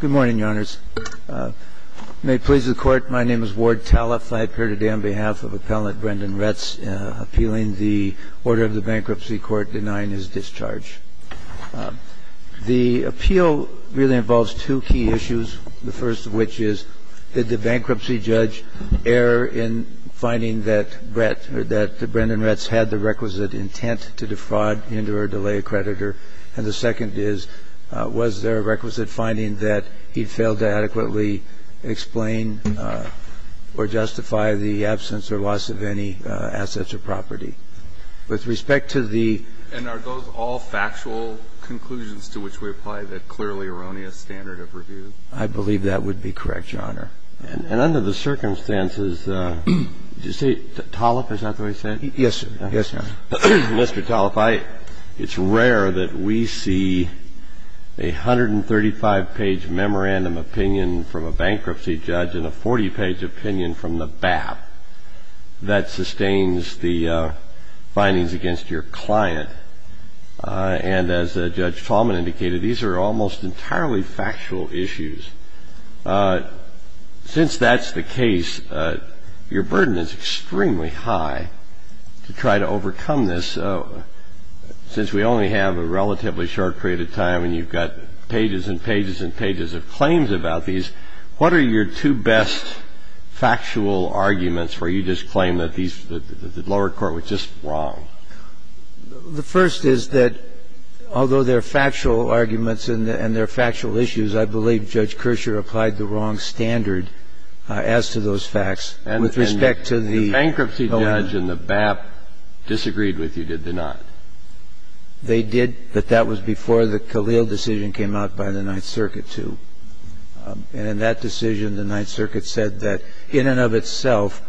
Good morning, Your Honors. May it please the Court, my name is Ward Talliff. I appear today on behalf of Appellant Brendan Retz appealing the order of the Bankruptcy Court denying his discharge. The appeal really involves two key issues, the first of which is, did the bankruptcy judge err in finding that Brendan Retz had the requisite intent to defraud, hinder, or delay a creditor? And the second is, was there a requisite finding that he failed to adequately explain or justify the absence or loss of any assets or property? With respect to the — And are those all factual conclusions to which we apply the clearly erroneous standard of review? I believe that would be correct, Your Honor. And under the circumstances, did you say Talliff? Is that the way you said it? Yes, Your Honor. Mr. Talliff, I — it's rare that we see a 135-page memorandum opinion from a bankruptcy judge and a 40-page opinion from the BAP that sustains the findings against your client. And as Judge Tallman indicated, these are almost entirely factual issues. Since that's the case, your burden is extremely high to try to overcome this. Since we only have a relatively short period of time and you've got pages and pages and pages of claims about these, what are your two best factual arguments where you just claim that these — that the lower court was just wrong? The first is that although there are factual arguments and there are factual issues, I believe Judge Kirscher applied the wrong standard as to those facts. With respect to the — And the bankruptcy judge and the BAP disagreed with you, did they not? They did. But that was before the Khalil decision came out by the Ninth Circuit, too. And in that decision, the Ninth Circuit said that in and of itself,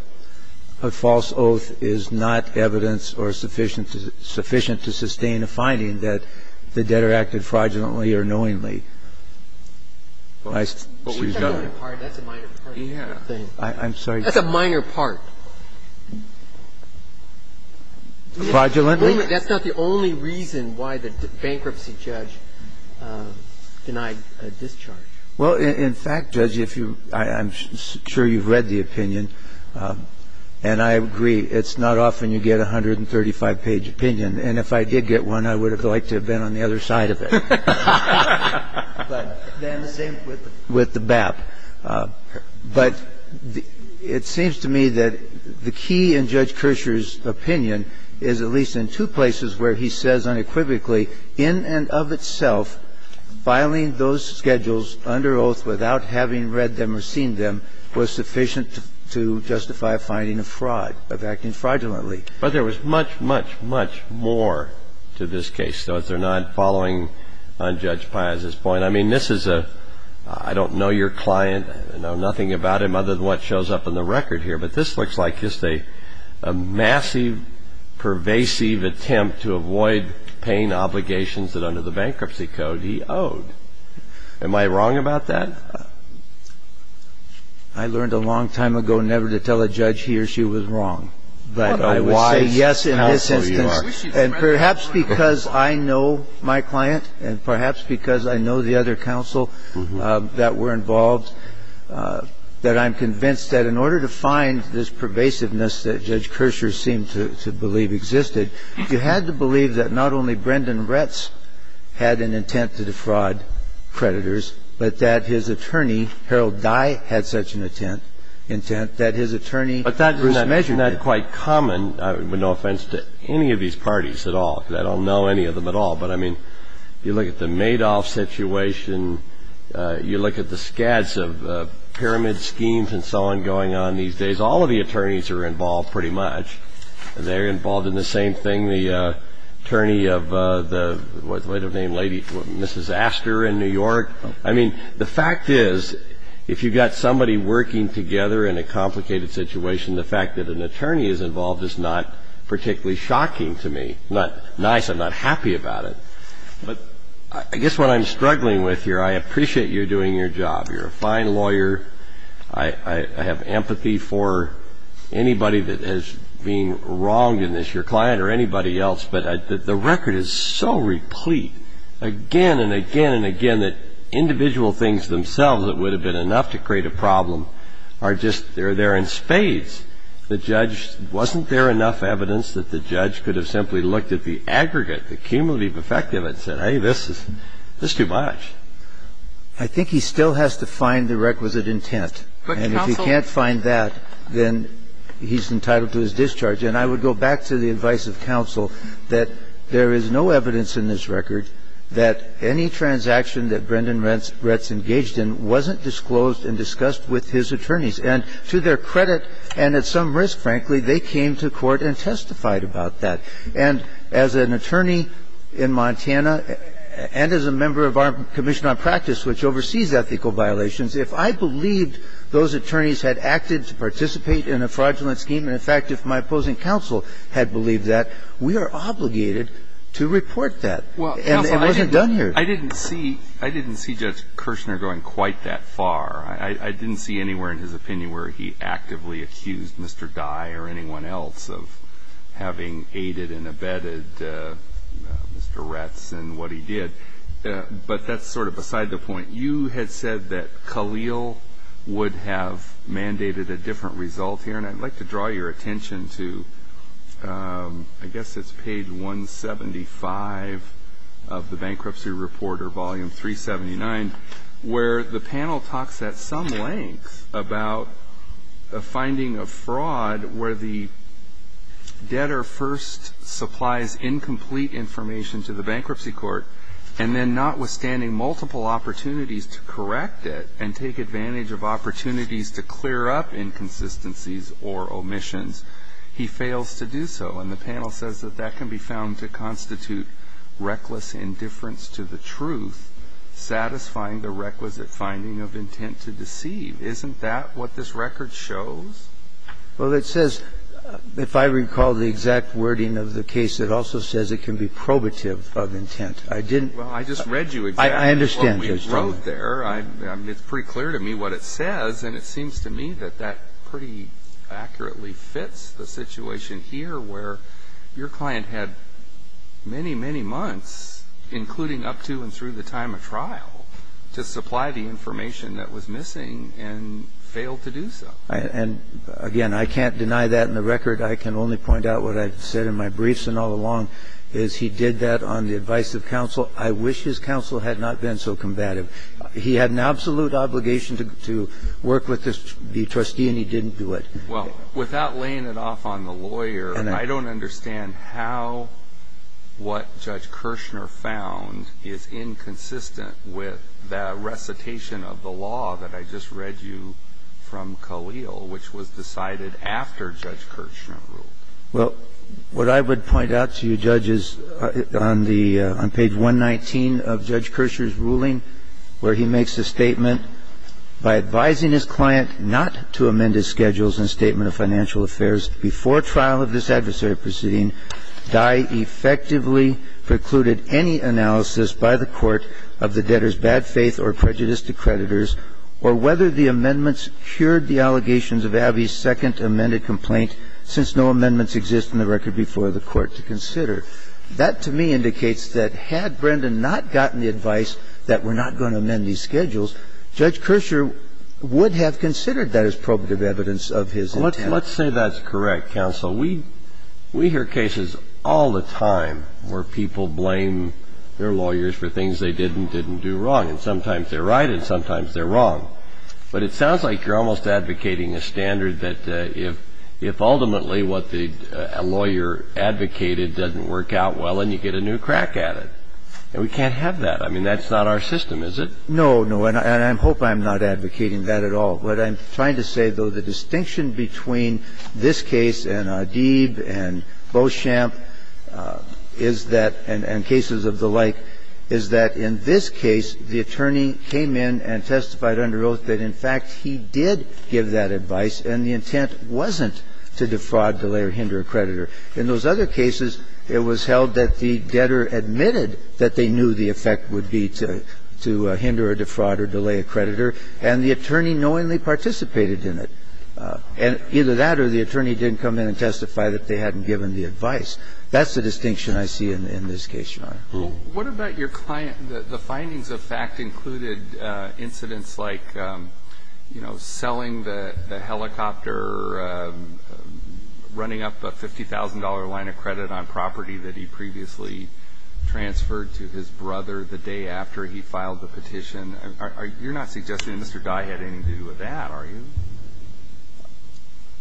a false oath is not evidence or sufficient to — sufficient to sustain a finding that the debtor acted fraudulently or knowingly. But we have a minor part. That's a minor part of the thing. I'm sorry. That's a minor part. Fraudulently? That's not the only reason why the bankruptcy judge denied a discharge. Well, in fact, Judge, if you — I'm sure you've read the opinion. And I agree. It's not often you get a 135-page opinion. And if I did get one, I would have liked to have been on the other side of it. But then the same with the — With the BAP. But it seems to me that the key in Judge Kershaw's opinion is at least in two places where he says unequivocally, in and of itself, filing those schedules under oath without having read them or seen them was sufficient to justify a finding of fraud, of acting fraudulently. But there was much, much, much more to this case. So if they're not following on Judge Pias's point, I mean, this is a — I don't know your client. I know nothing about him other than what shows up in the record here. But this looks like just a massive, pervasive attempt to avoid paying obligations that under the bankruptcy code he owed. Am I wrong about that? I learned a long time ago never to tell a judge he or she was wrong. But I would say yes in this instance. And perhaps because I know my client and perhaps because I know the other counsel that were involved, that I'm convinced that in order to find this pervasiveness that Judge Kershaw seemed to believe existed, you had to believe that not only Brendan Retz had an intent to defraud creditors, but that his attorney, Harold Dye, had such an intent that his attorney was measured. But that's not quite common, with no offense to any of these parties at all, because I don't know any of them at all. But, I mean, you look at the Madoff situation. You look at the scads of pyramid schemes and so on going on these days. All of the attorneys are involved, pretty much. They're involved in the same thing. The attorney of the — what was the lady's name? Mrs. Astor in New York. I mean, the fact is, if you've got somebody working together in a complicated situation, the fact that an attorney is involved is not particularly shocking to me. It's not nice. I'm not happy about it. But I guess what I'm struggling with here, I appreciate you doing your job. You're a fine lawyer. I have empathy for anybody that has been wronged in this, your client or anybody else. But the record is so replete, again and again and again, that individual things themselves that would have been enough to create a problem are just — they're there in spades. The judge — wasn't there enough evidence that the judge could have simply looked at the aggregate, the cumulative effect of it and said, hey, this is too much? I think he still has to find the requisite intent. And if he can't find that, then he's entitled to his discharge. And I would go back to the advice of counsel that there is no evidence in this record that any transaction that Brendan Retz engaged in wasn't disclosed and discussed with his attorneys. And to their credit, and at some risk, frankly, they came to court and testified about that. And as an attorney in Montana and as a member of our Commission on Practice, which oversees ethical violations, if I believed those attorneys had acted to participate in a fraudulent scheme, and, in fact, if my opposing counsel had believed that, we are obligated to report that. And it wasn't done here. I didn't see — I didn't see Judge Kirshner going quite that far. I didn't see anywhere in his opinion where he actively accused Mr. Dye or anyone else of having aided and abetted Mr. Retz in what he did. But that's sort of beside the point. You had said that Khalil would have mandated a different result here. And I'd like to draw your attention to, I guess it's page 175 of the Bankruptcy Report or Volume 379, where the panel talks at some length about a finding of fraud where the debtor first supplies incomplete information to the bankruptcy court, and then notwithstanding multiple opportunities to correct it and take advantage of opportunities to clear up inconsistencies or omissions, he fails to do so. And the panel says that that can be found to constitute reckless indifference to the truth, satisfying the requisite finding of intent to deceive. Isn't that what this record shows? Well, it says — if I recall the exact wording of the case, it also says it can be probative of intent. I didn't — Well, I just read you exactly what we wrote there. It's pretty clear to me what it says, and it seems to me that that pretty accurately fits the situation here where your client had many, many months, including up to and through the time of trial, to supply the information that was missing and failed to do so. And, again, I can't deny that in the record. I can only point out what I've said in my briefs and all along, is he did that on the advice of counsel. I wish his counsel had not been so combative. He had an absolute obligation to work with the trustee, and he didn't do it. Well, without laying it off on the lawyer, I don't understand how what Judge Kirshner found is inconsistent with the recitation of the law that I just read you from Khalil, which was decided after Judge Kirshner ruled. Well, what I would point out to you, Judge, is on the — on page 119 of Judge Kirshner's ruling, where he makes a statement, By advising his client not to amend his schedules in a statement of financial affairs before trial of this adversary proceeding, thy effectively precluded any analysis by the court of the debtor's bad faith or prejudice to creditors, or whether the amendments cured the allegations of Abbey's second amended complaint since no amendments exist in the record before the court to consider. That, to me, indicates that had Brendan not gotten the advice that we're not going to amend these schedules, Judge Kirshner would have considered that as probative evidence of his intent. Well, let's say that's correct, counsel. We hear cases all the time where people blame their lawyers for things they did and didn't do wrong. And sometimes they're right and sometimes they're wrong. But it sounds like you're almost advocating a standard that if ultimately what the lawyer advocated doesn't work out well and you get a new crack at it. And we can't have that. I mean, that's not our system, is it? No, no. And I hope I'm not advocating that at all. What I'm trying to say, though, the distinction between this case and Adib and Beauchamp is that — and cases of the like — is that in this case, the attorney came in and wrote that, in fact, he did give that advice and the intent wasn't to defraud, delay, or hinder a creditor. In those other cases, it was held that the debtor admitted that they knew the effect would be to — to hinder or defraud or delay a creditor, and the attorney knowingly participated in it. And either that or the attorney didn't come in and testify that they hadn't given the advice. That's the distinction I see in this case, Your Honor. Well, what about your client — the findings of fact included incidents like, you know, selling the helicopter, running up a $50,000 line of credit on property that he previously transferred to his brother the day after he filed the petition. You're not suggesting that Mr. Dye had anything to do with that, are you?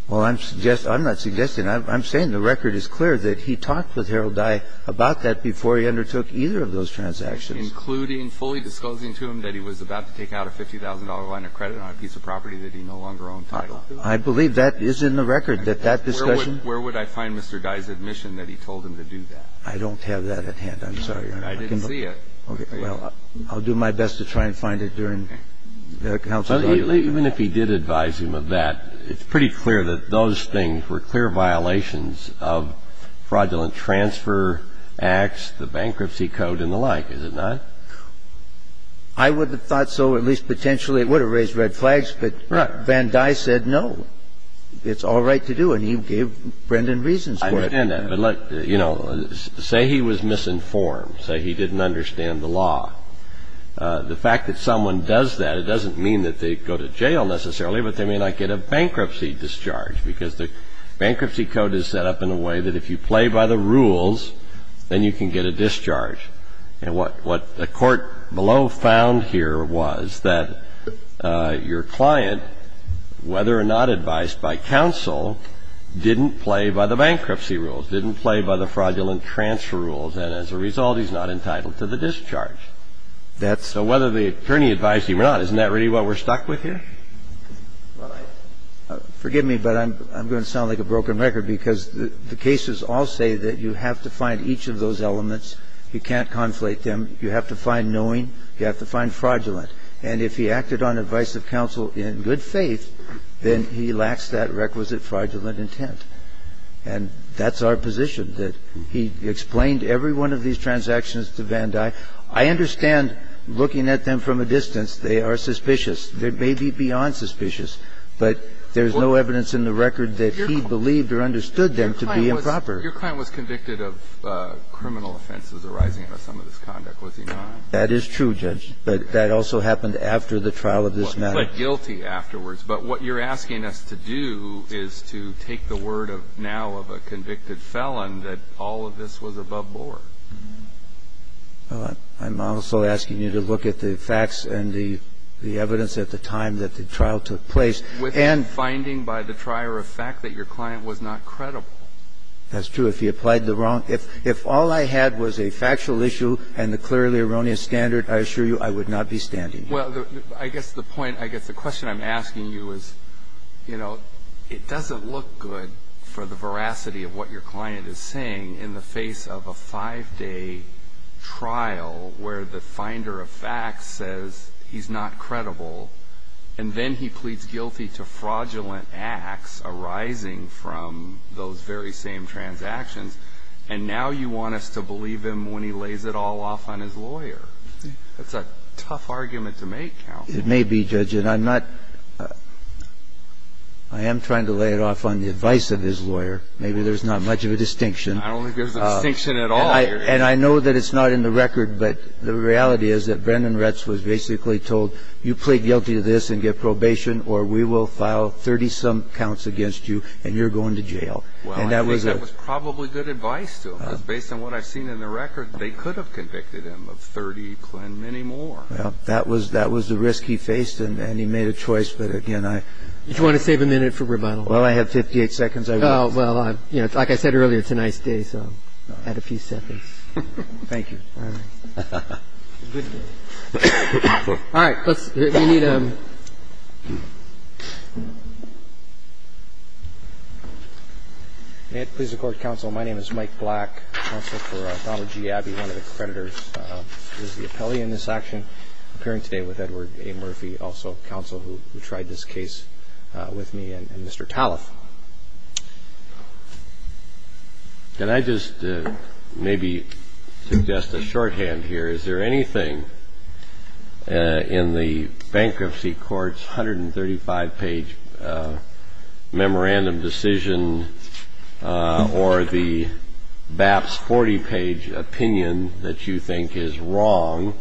Well, I'm suggesting — I'm not suggesting. I'm saying the record is clear that he talked with Harold Dye about that before he undertook either of those transactions. Including fully disclosing to him that he was about to take out a $50,000 line of credit on a piece of property that he no longer owned title. I believe that is in the record, that that discussion — Where would I find Mr. Dye's admission that he told him to do that? I don't have that at hand. I'm sorry, Your Honor. I didn't see it. Okay. Well, I'll do my best to try and find it during the counsel's argument. Even if he did advise him of that, it's pretty clear that those things were clear violations of fraudulent transfer acts, the bankruptcy code and the like, is it not? I would have thought so, at least potentially. It would have raised red flags. But Van Dye said no. It's all right to do. And he gave Brendan reasons for it. I understand that. But, you know, say he was misinformed. Say he didn't understand the law. The fact that someone does that, it doesn't mean that they go to jail necessarily, but they may not get a bankruptcy discharge because the bankruptcy code is set up in a way that if you play by the rules, then you can get a discharge. And what the court below found here was that your client, whether or not advised by counsel, didn't play by the bankruptcy rules, didn't play by the fraudulent transfer rules. And as a result, he's not entitled to the discharge. So whether the attorney advised him or not, isn't that really what we're stuck with here? Well, forgive me, but I'm going to sound like a broken record because the cases all say that you have to find each of those elements. You can't conflate them. You have to find knowing. You have to find fraudulent. And if he acted on advice of counsel in good faith, then he lacks that requisite fraudulent intent. And that's our position, that he explained every one of these transactions to Van Dyke. I understand, looking at them from a distance, they are suspicious. They may be beyond suspicious, but there's no evidence in the record that he believed or understood them to be improper. Your client was convicted of criminal offenses arising out of some of this conduct, was he not? That is true, Judge, but that also happened after the trial of this matter. I'm not guilty afterwards, but what you're asking us to do is to take the word of now of a convicted felon that all of this was above board. I'm also asking you to look at the facts and the evidence at the time that the trial took place. And finding by the trier of fact that your client was not credible. That's true. If he applied the wrong – if all I had was a factual issue and the clearly erroneous standard, I assure you I would not be standing here. Well, I guess the point – I guess the question I'm asking you is, you know, it doesn't look good for the veracity of what your client is saying in the face of a five-day trial where the finder of facts says he's not credible, and then he pleads guilty to fraudulent acts arising from those very same transactions. And now you want us to believe him when he lays it all off on his lawyer. That's a tough argument to make, counsel. It may be, Judge. And I'm not – I am trying to lay it off on the advice of his lawyer. Maybe there's not much of a distinction. I don't think there's a distinction at all here. And I know that it's not in the record, but the reality is that Brendan Retz was basically told, you plead guilty to this and get probation, or we will file 30-some counts against you, and you're going to jail. Well, I think that was probably good advice to him, because based on what I've seen in the record, they could have convicted him of 30 and many more. Well, that was the risk he faced, and he made a choice. But again, I – Do you want to save a minute for rebuttal? Well, I have 58 seconds. I will. Well, like I said earlier, it's a nice day, so add a few seconds. Thank you. All right. Good day. All right, let's – we need a – May it please the Court, counsel. My name is Mike Black, counsel for Donald G. Abbey, one of the creditors of the appellee in this action, appearing today with Edward A. Murphy, also counsel who tried this case with me, and Mr. Talliff. Can I just maybe suggest a shorthand here? Is there anything in the bankruptcy court's 135-page memorandum decision or the BAPS 40-page opinion that you think is wrong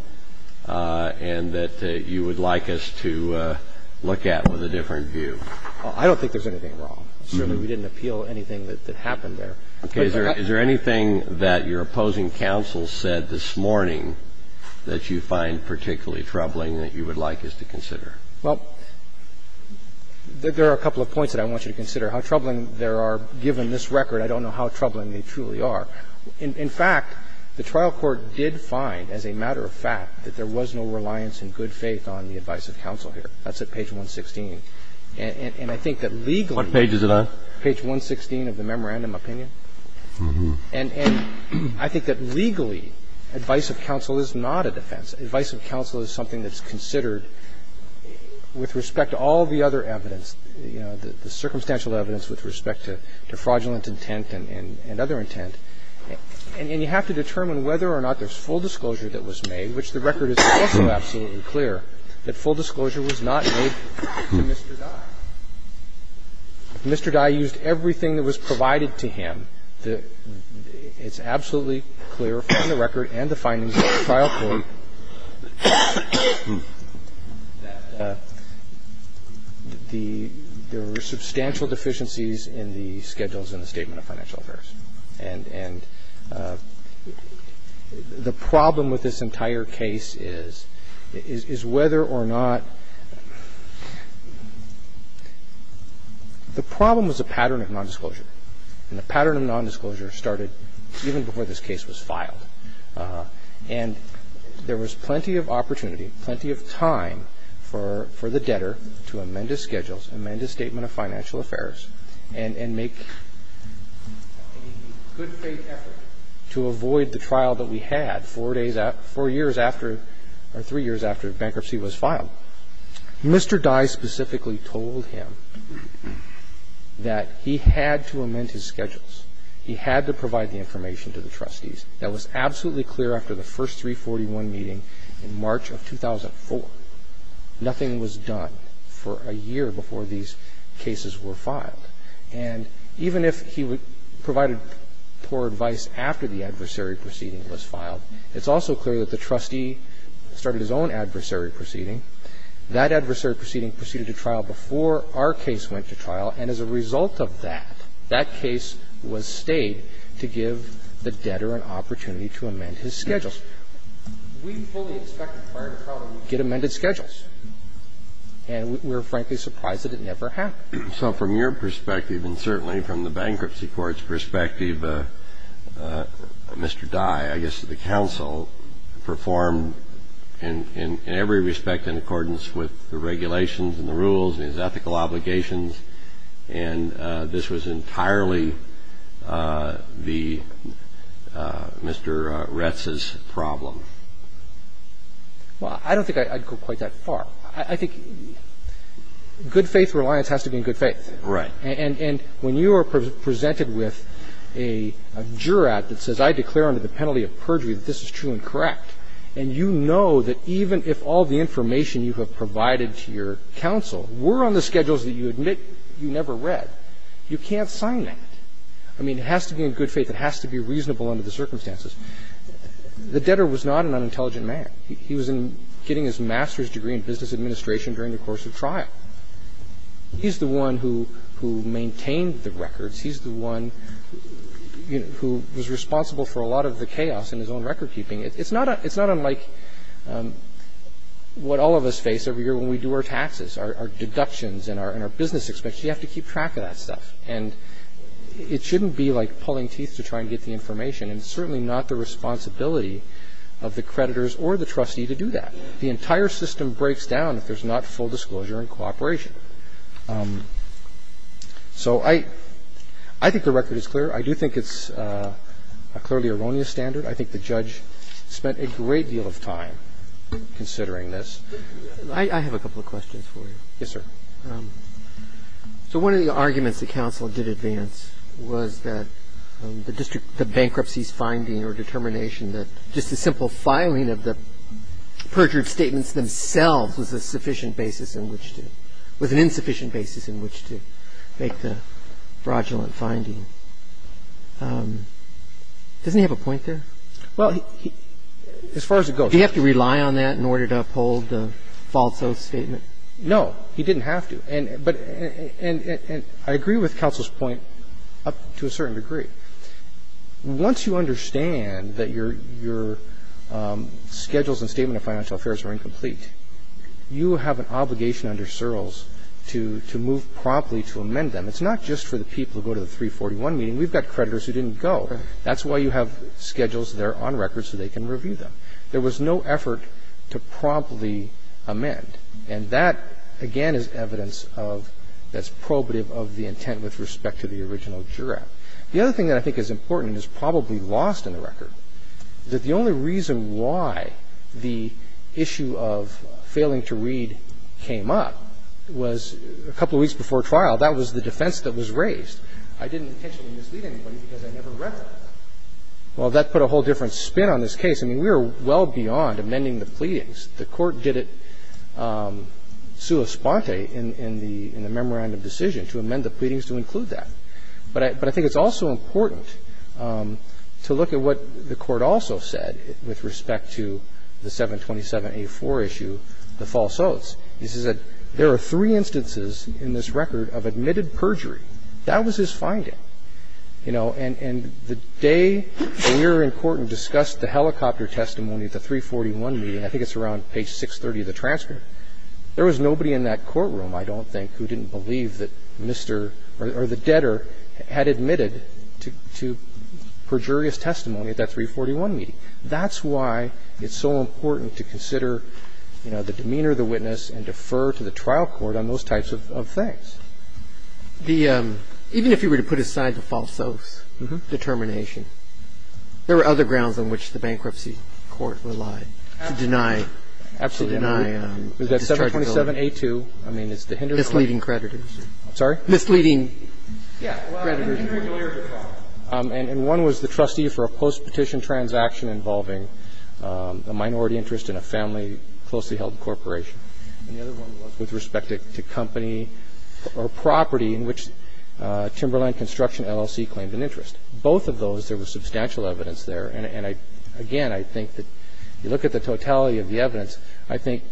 and that you would like us to look at with a different view? I don't think there's anything wrong. Certainly, we didn't appeal anything that happened there. Okay. Is there anything that your opposing counsel said this morning that you find particularly troubling that you would like us to consider? Well, there are a couple of points that I want you to consider. How troubling there are, given this record, I don't know how troubling they truly are. In fact, the trial court did find, as a matter of fact, that there was no reliance in good faith on the advice of counsel here. That's at page 116. And I think that legally – What page is it on? Page 116 of the memorandum opinion. And I think that legally, advice of counsel is not a defense. Advice of counsel is something that's considered with respect to all the other evidence, the circumstantial evidence with respect to fraudulent intent and other intent. And you have to determine whether or not there's full disclosure that was made, which the record is also absolutely clear that full disclosure was not made to Mr. Dye. If Mr. Dye used everything that was provided to him, it's absolutely clear from the record and the findings of the trial court that there were substantial deficiencies in the schedules in the Statement of Financial Affairs. And the problem with this entire case is, is whether or not the evidence that was provided to counsel was sufficient to make a good faith effort to avoid the trial that we had four days after – four years after or three years after bankruptcy was filed. And I think it's also clear from the record that Mr. Dye's counsel told him that he had to amend his schedules. He had to provide the information to the trustees. That was absolutely clear after the first 341 meeting in March of 2004. Nothing was done for a year before these cases were filed. And even if he provided poor advice after the adversary proceeding was filed, it's also clear that the trustee started his own adversary proceeding. That adversary proceeding proceeded to trial before our case went to trial. And as a result of that, that case was stayed to give the debtor an opportunity to amend his schedules. We fully expected prior to trial to get amended schedules, and we're, frankly, surprised that it never happened. So from your perspective, and certainly from the bankruptcy court's perspective, do you believe Mr. Dye, I guess the counsel, performed in every respect in accordance with the regulations and the rules and his ethical obligations, and this was entirely the – Mr. Retz's problem? Well, I don't think I'd go quite that far. I think good-faith reliance has to be in good faith. Right. And when you are presented with a jurat that says, I declare under the penalty of perjury that this is true and correct, and you know that even if all the information you have provided to your counsel were on the schedules that you admit you never read, you can't sign that. I mean, it has to be in good faith. It has to be reasonable under the circumstances. The debtor was not an unintelligent man. He was getting his master's degree in business administration during the course of trial. He's the one who maintained the records. He's the one who was responsible for a lot of the chaos in his own recordkeeping. It's not unlike what all of us face every year when we do our taxes, our deductions and our business expenses. You have to keep track of that stuff. And it shouldn't be like pulling teeth to try and get the information, and it's certainly not the responsibility of the creditors or the trustee to do that. The entire system breaks down if there's not full disclosure and cooperation. So I think the record is clear. I do think it's a clearly erroneous standard. I think the judge spent a great deal of time considering this. I have a couple of questions for you. Yes, sir. So one of the arguments that counsel did advance was that the district of bankruptcy's finding or determination that just a simple filing of the perjured statements themselves was a sufficient basis in which to – was an insufficient basis in which to make the fraudulent finding, doesn't he have a point there? Well, he – as far as it goes. Did he have to rely on that in order to uphold the false oath statement? No. He didn't have to. And – but – and I agree with counsel's point to a certain degree. Once you understand that your – your schedules and statement of financial affairs are incomplete, you have an obligation under Searles to – to move promptly to amend them. It's not just for the people who go to the 341 meeting. We've got creditors who didn't go. That's why you have schedules there on record so they can review them. There was no effort to promptly amend. And that, again, is evidence of – that's probative of the intent with respect to the original jurat. The other thing that I think is important and is probably lost in the record is that the only reason why the issue of failing to read came up was a couple of weeks before trial. That was the defense that was raised. I didn't intentionally mislead anybody because I never read that. Well, that put a whole different spin on this case. I mean, we were well beyond amending the pleadings. The Court did it sua sponte in the – in the memorandum decision to amend the pleadings to include that. But I – but I think it's also important to look at what the Court also said with respect to the 727A4 issue, the false oaths. He says that there are three instances in this record of admitted perjury. That was his finding. You know, and – and the day we were in court and discussed the helicopter testimony at the 341 meeting, I think it's around page 630 of the transcript, there was nobody in that courtroom, I don't think, who didn't believe that Mr. or the debtor had admitted to perjurious testimony at that 341 meeting. That's why it's so important to consider, you know, the demeanor of the witness and defer to the trial court on those types of things. The – even if he were to put aside the false oath determination, there were other grounds on which the Bankruptcy Court relied to deny – to deny dischargeability. Absolutely. Was that 727A2? I mean, it's the Hindersley? Misleading creditors. I'm sorry? Misleading creditors. Yeah. Well, I think there are two areas of fraud. And one was the trustee for a post-petition transaction involving a minority interest in a family closely held corporation. And the other one was with respect to company or property in which Timberland Construction LLC claimed an interest. Both of those, there was substantial evidence there. And I – again, I think that you look at the totality of the evidence, I think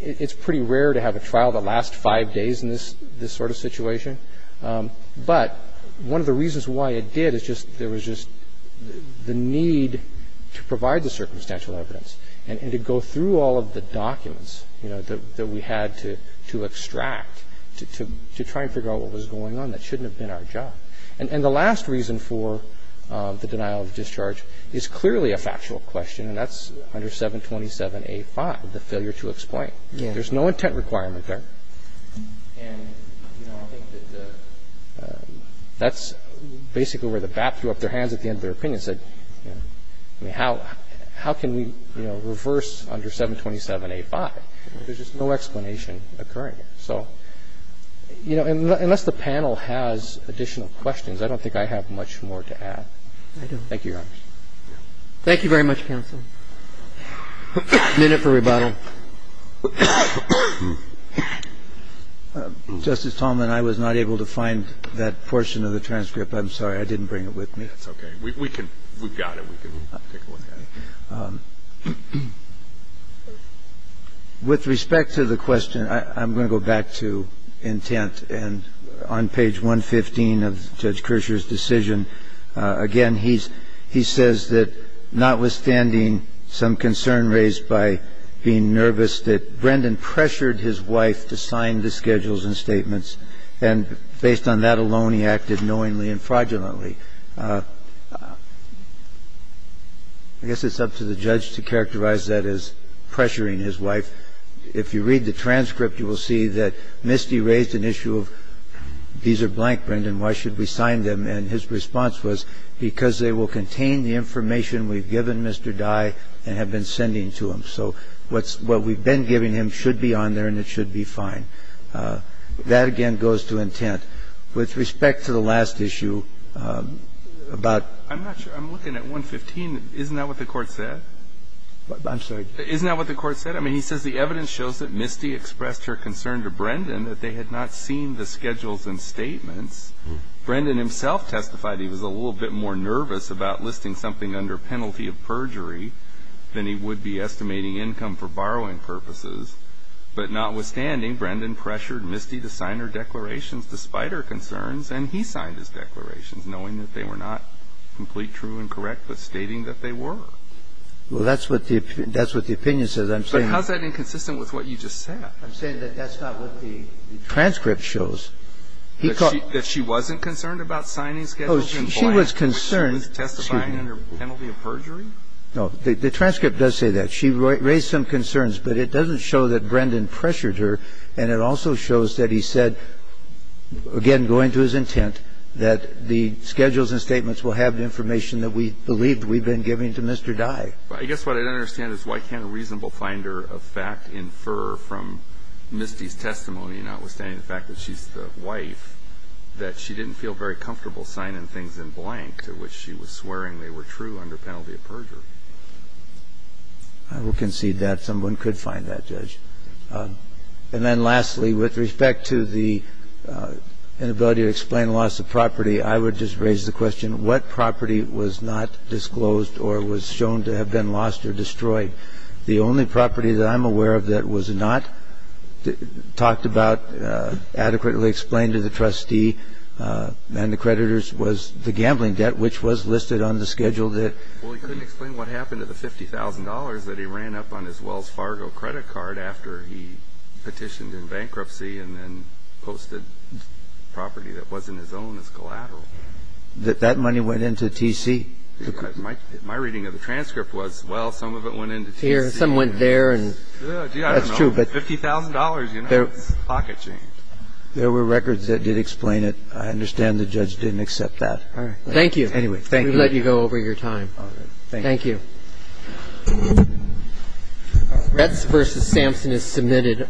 it's pretty rare to have a trial that lasts five days in this sort of situation. But one of the reasons why it did is just there was just the need to provide the circumstantial evidence and to go through all of the documents, you know, that we had to extract to try and figure out what was going on that shouldn't have been our job. And the last reason for the denial of discharge is clearly a factual question, and that's under 727A5, the failure to explain. There's no intent requirement there. And, you know, I think that that's basically where the BAP threw up their hands at the end of their opinion and said, you know, I mean, how can we, you know, reverse under 727A5? There's just no explanation occurring. So, you know, unless the panel has additional questions, I don't think I have much more to add. I don't. Thank you, Your Honor. Thank you very much, counsel. Minute for rebuttal. Justice Talmadge, I was not able to find that portion of the transcript. I'm sorry. I didn't bring it with me. That's okay. We can – we've got it. We can take it with us. With respect to the question, I'm going to go back to intent. And on page 115 of Judge Kershaw's decision, again, he says that notwithstanding some concern raised by being nervous that Brendan pressured his wife to sign the schedules and statements, and based on that alone, he acted knowingly and fraudulently. I guess it's up to the judge to characterize that as pressuring his wife. If you read the transcript, you will see that Misty raised an issue of these are blank, Brendan. Why should we sign them? And his response was because they will contain the information we've given Mr. Dye and have been sending to him. So what we've been giving him should be on there and it should be fine. That, again, goes to intent. With respect to the last issue about – I'm not sure. I'm looking at 115. Isn't that what the Court said? I'm sorry. Isn't that what the Court said? I mean, he says the evidence shows that Misty expressed her concern to Brendan that they had not seen the schedules and statements. Brendan himself testified he was a little bit more nervous about listing something under penalty of perjury than he would be estimating income for borrowing purposes. But notwithstanding, Brendan pressured Misty to sign her declarations despite her concerns, and he signed his declarations knowing that they were not complete, true, and correct, but stating that they were. Well, that's what the opinion says. But how is that inconsistent with what you just said? I'm saying that that's not what the transcript shows. That she wasn't concerned about signing schedules? She was concerned. She was testifying under penalty of perjury? No. The transcript does say that. She raised some concerns, but it doesn't show that Brendan pressured her, and it also shows that he said, again, going to his intent, that the schedules and statements will have the information that we believed we'd been giving to Mr. Dye. I guess what I don't understand is why can't a reasonable finder of fact infer from Misty's testimony, notwithstanding the fact that she's the wife, that she didn't feel very comfortable signing things in blank, to which she was swearing they were true under penalty of perjury? I will concede that. Someone could find that, Judge. And then lastly, with respect to the inability to explain loss of property, I would just raise the question, what property was not disclosed or was shown to have been lost or destroyed? The only property that I'm aware of that was not talked about, adequately explained to the trustee and the creditors, was the gambling debt, which was listed on the schedule that- Well, he couldn't explain what happened to the $50,000 that he ran up on his Wells Fargo credit card after he petitioned in bankruptcy and then posted property that wasn't his own, as collateral. That that money went into TC? My reading of the transcript was, well, some of it went into TC. Here, some went there and- That's true, but- $50,000, you know, it's pocket change. There were records that did explain it. I understand the judge didn't accept that. All right. Thank you. Anyway, thank you. We'll let you go over your time. All right. Thank you. Thank you. Retz v. Samson is submitted.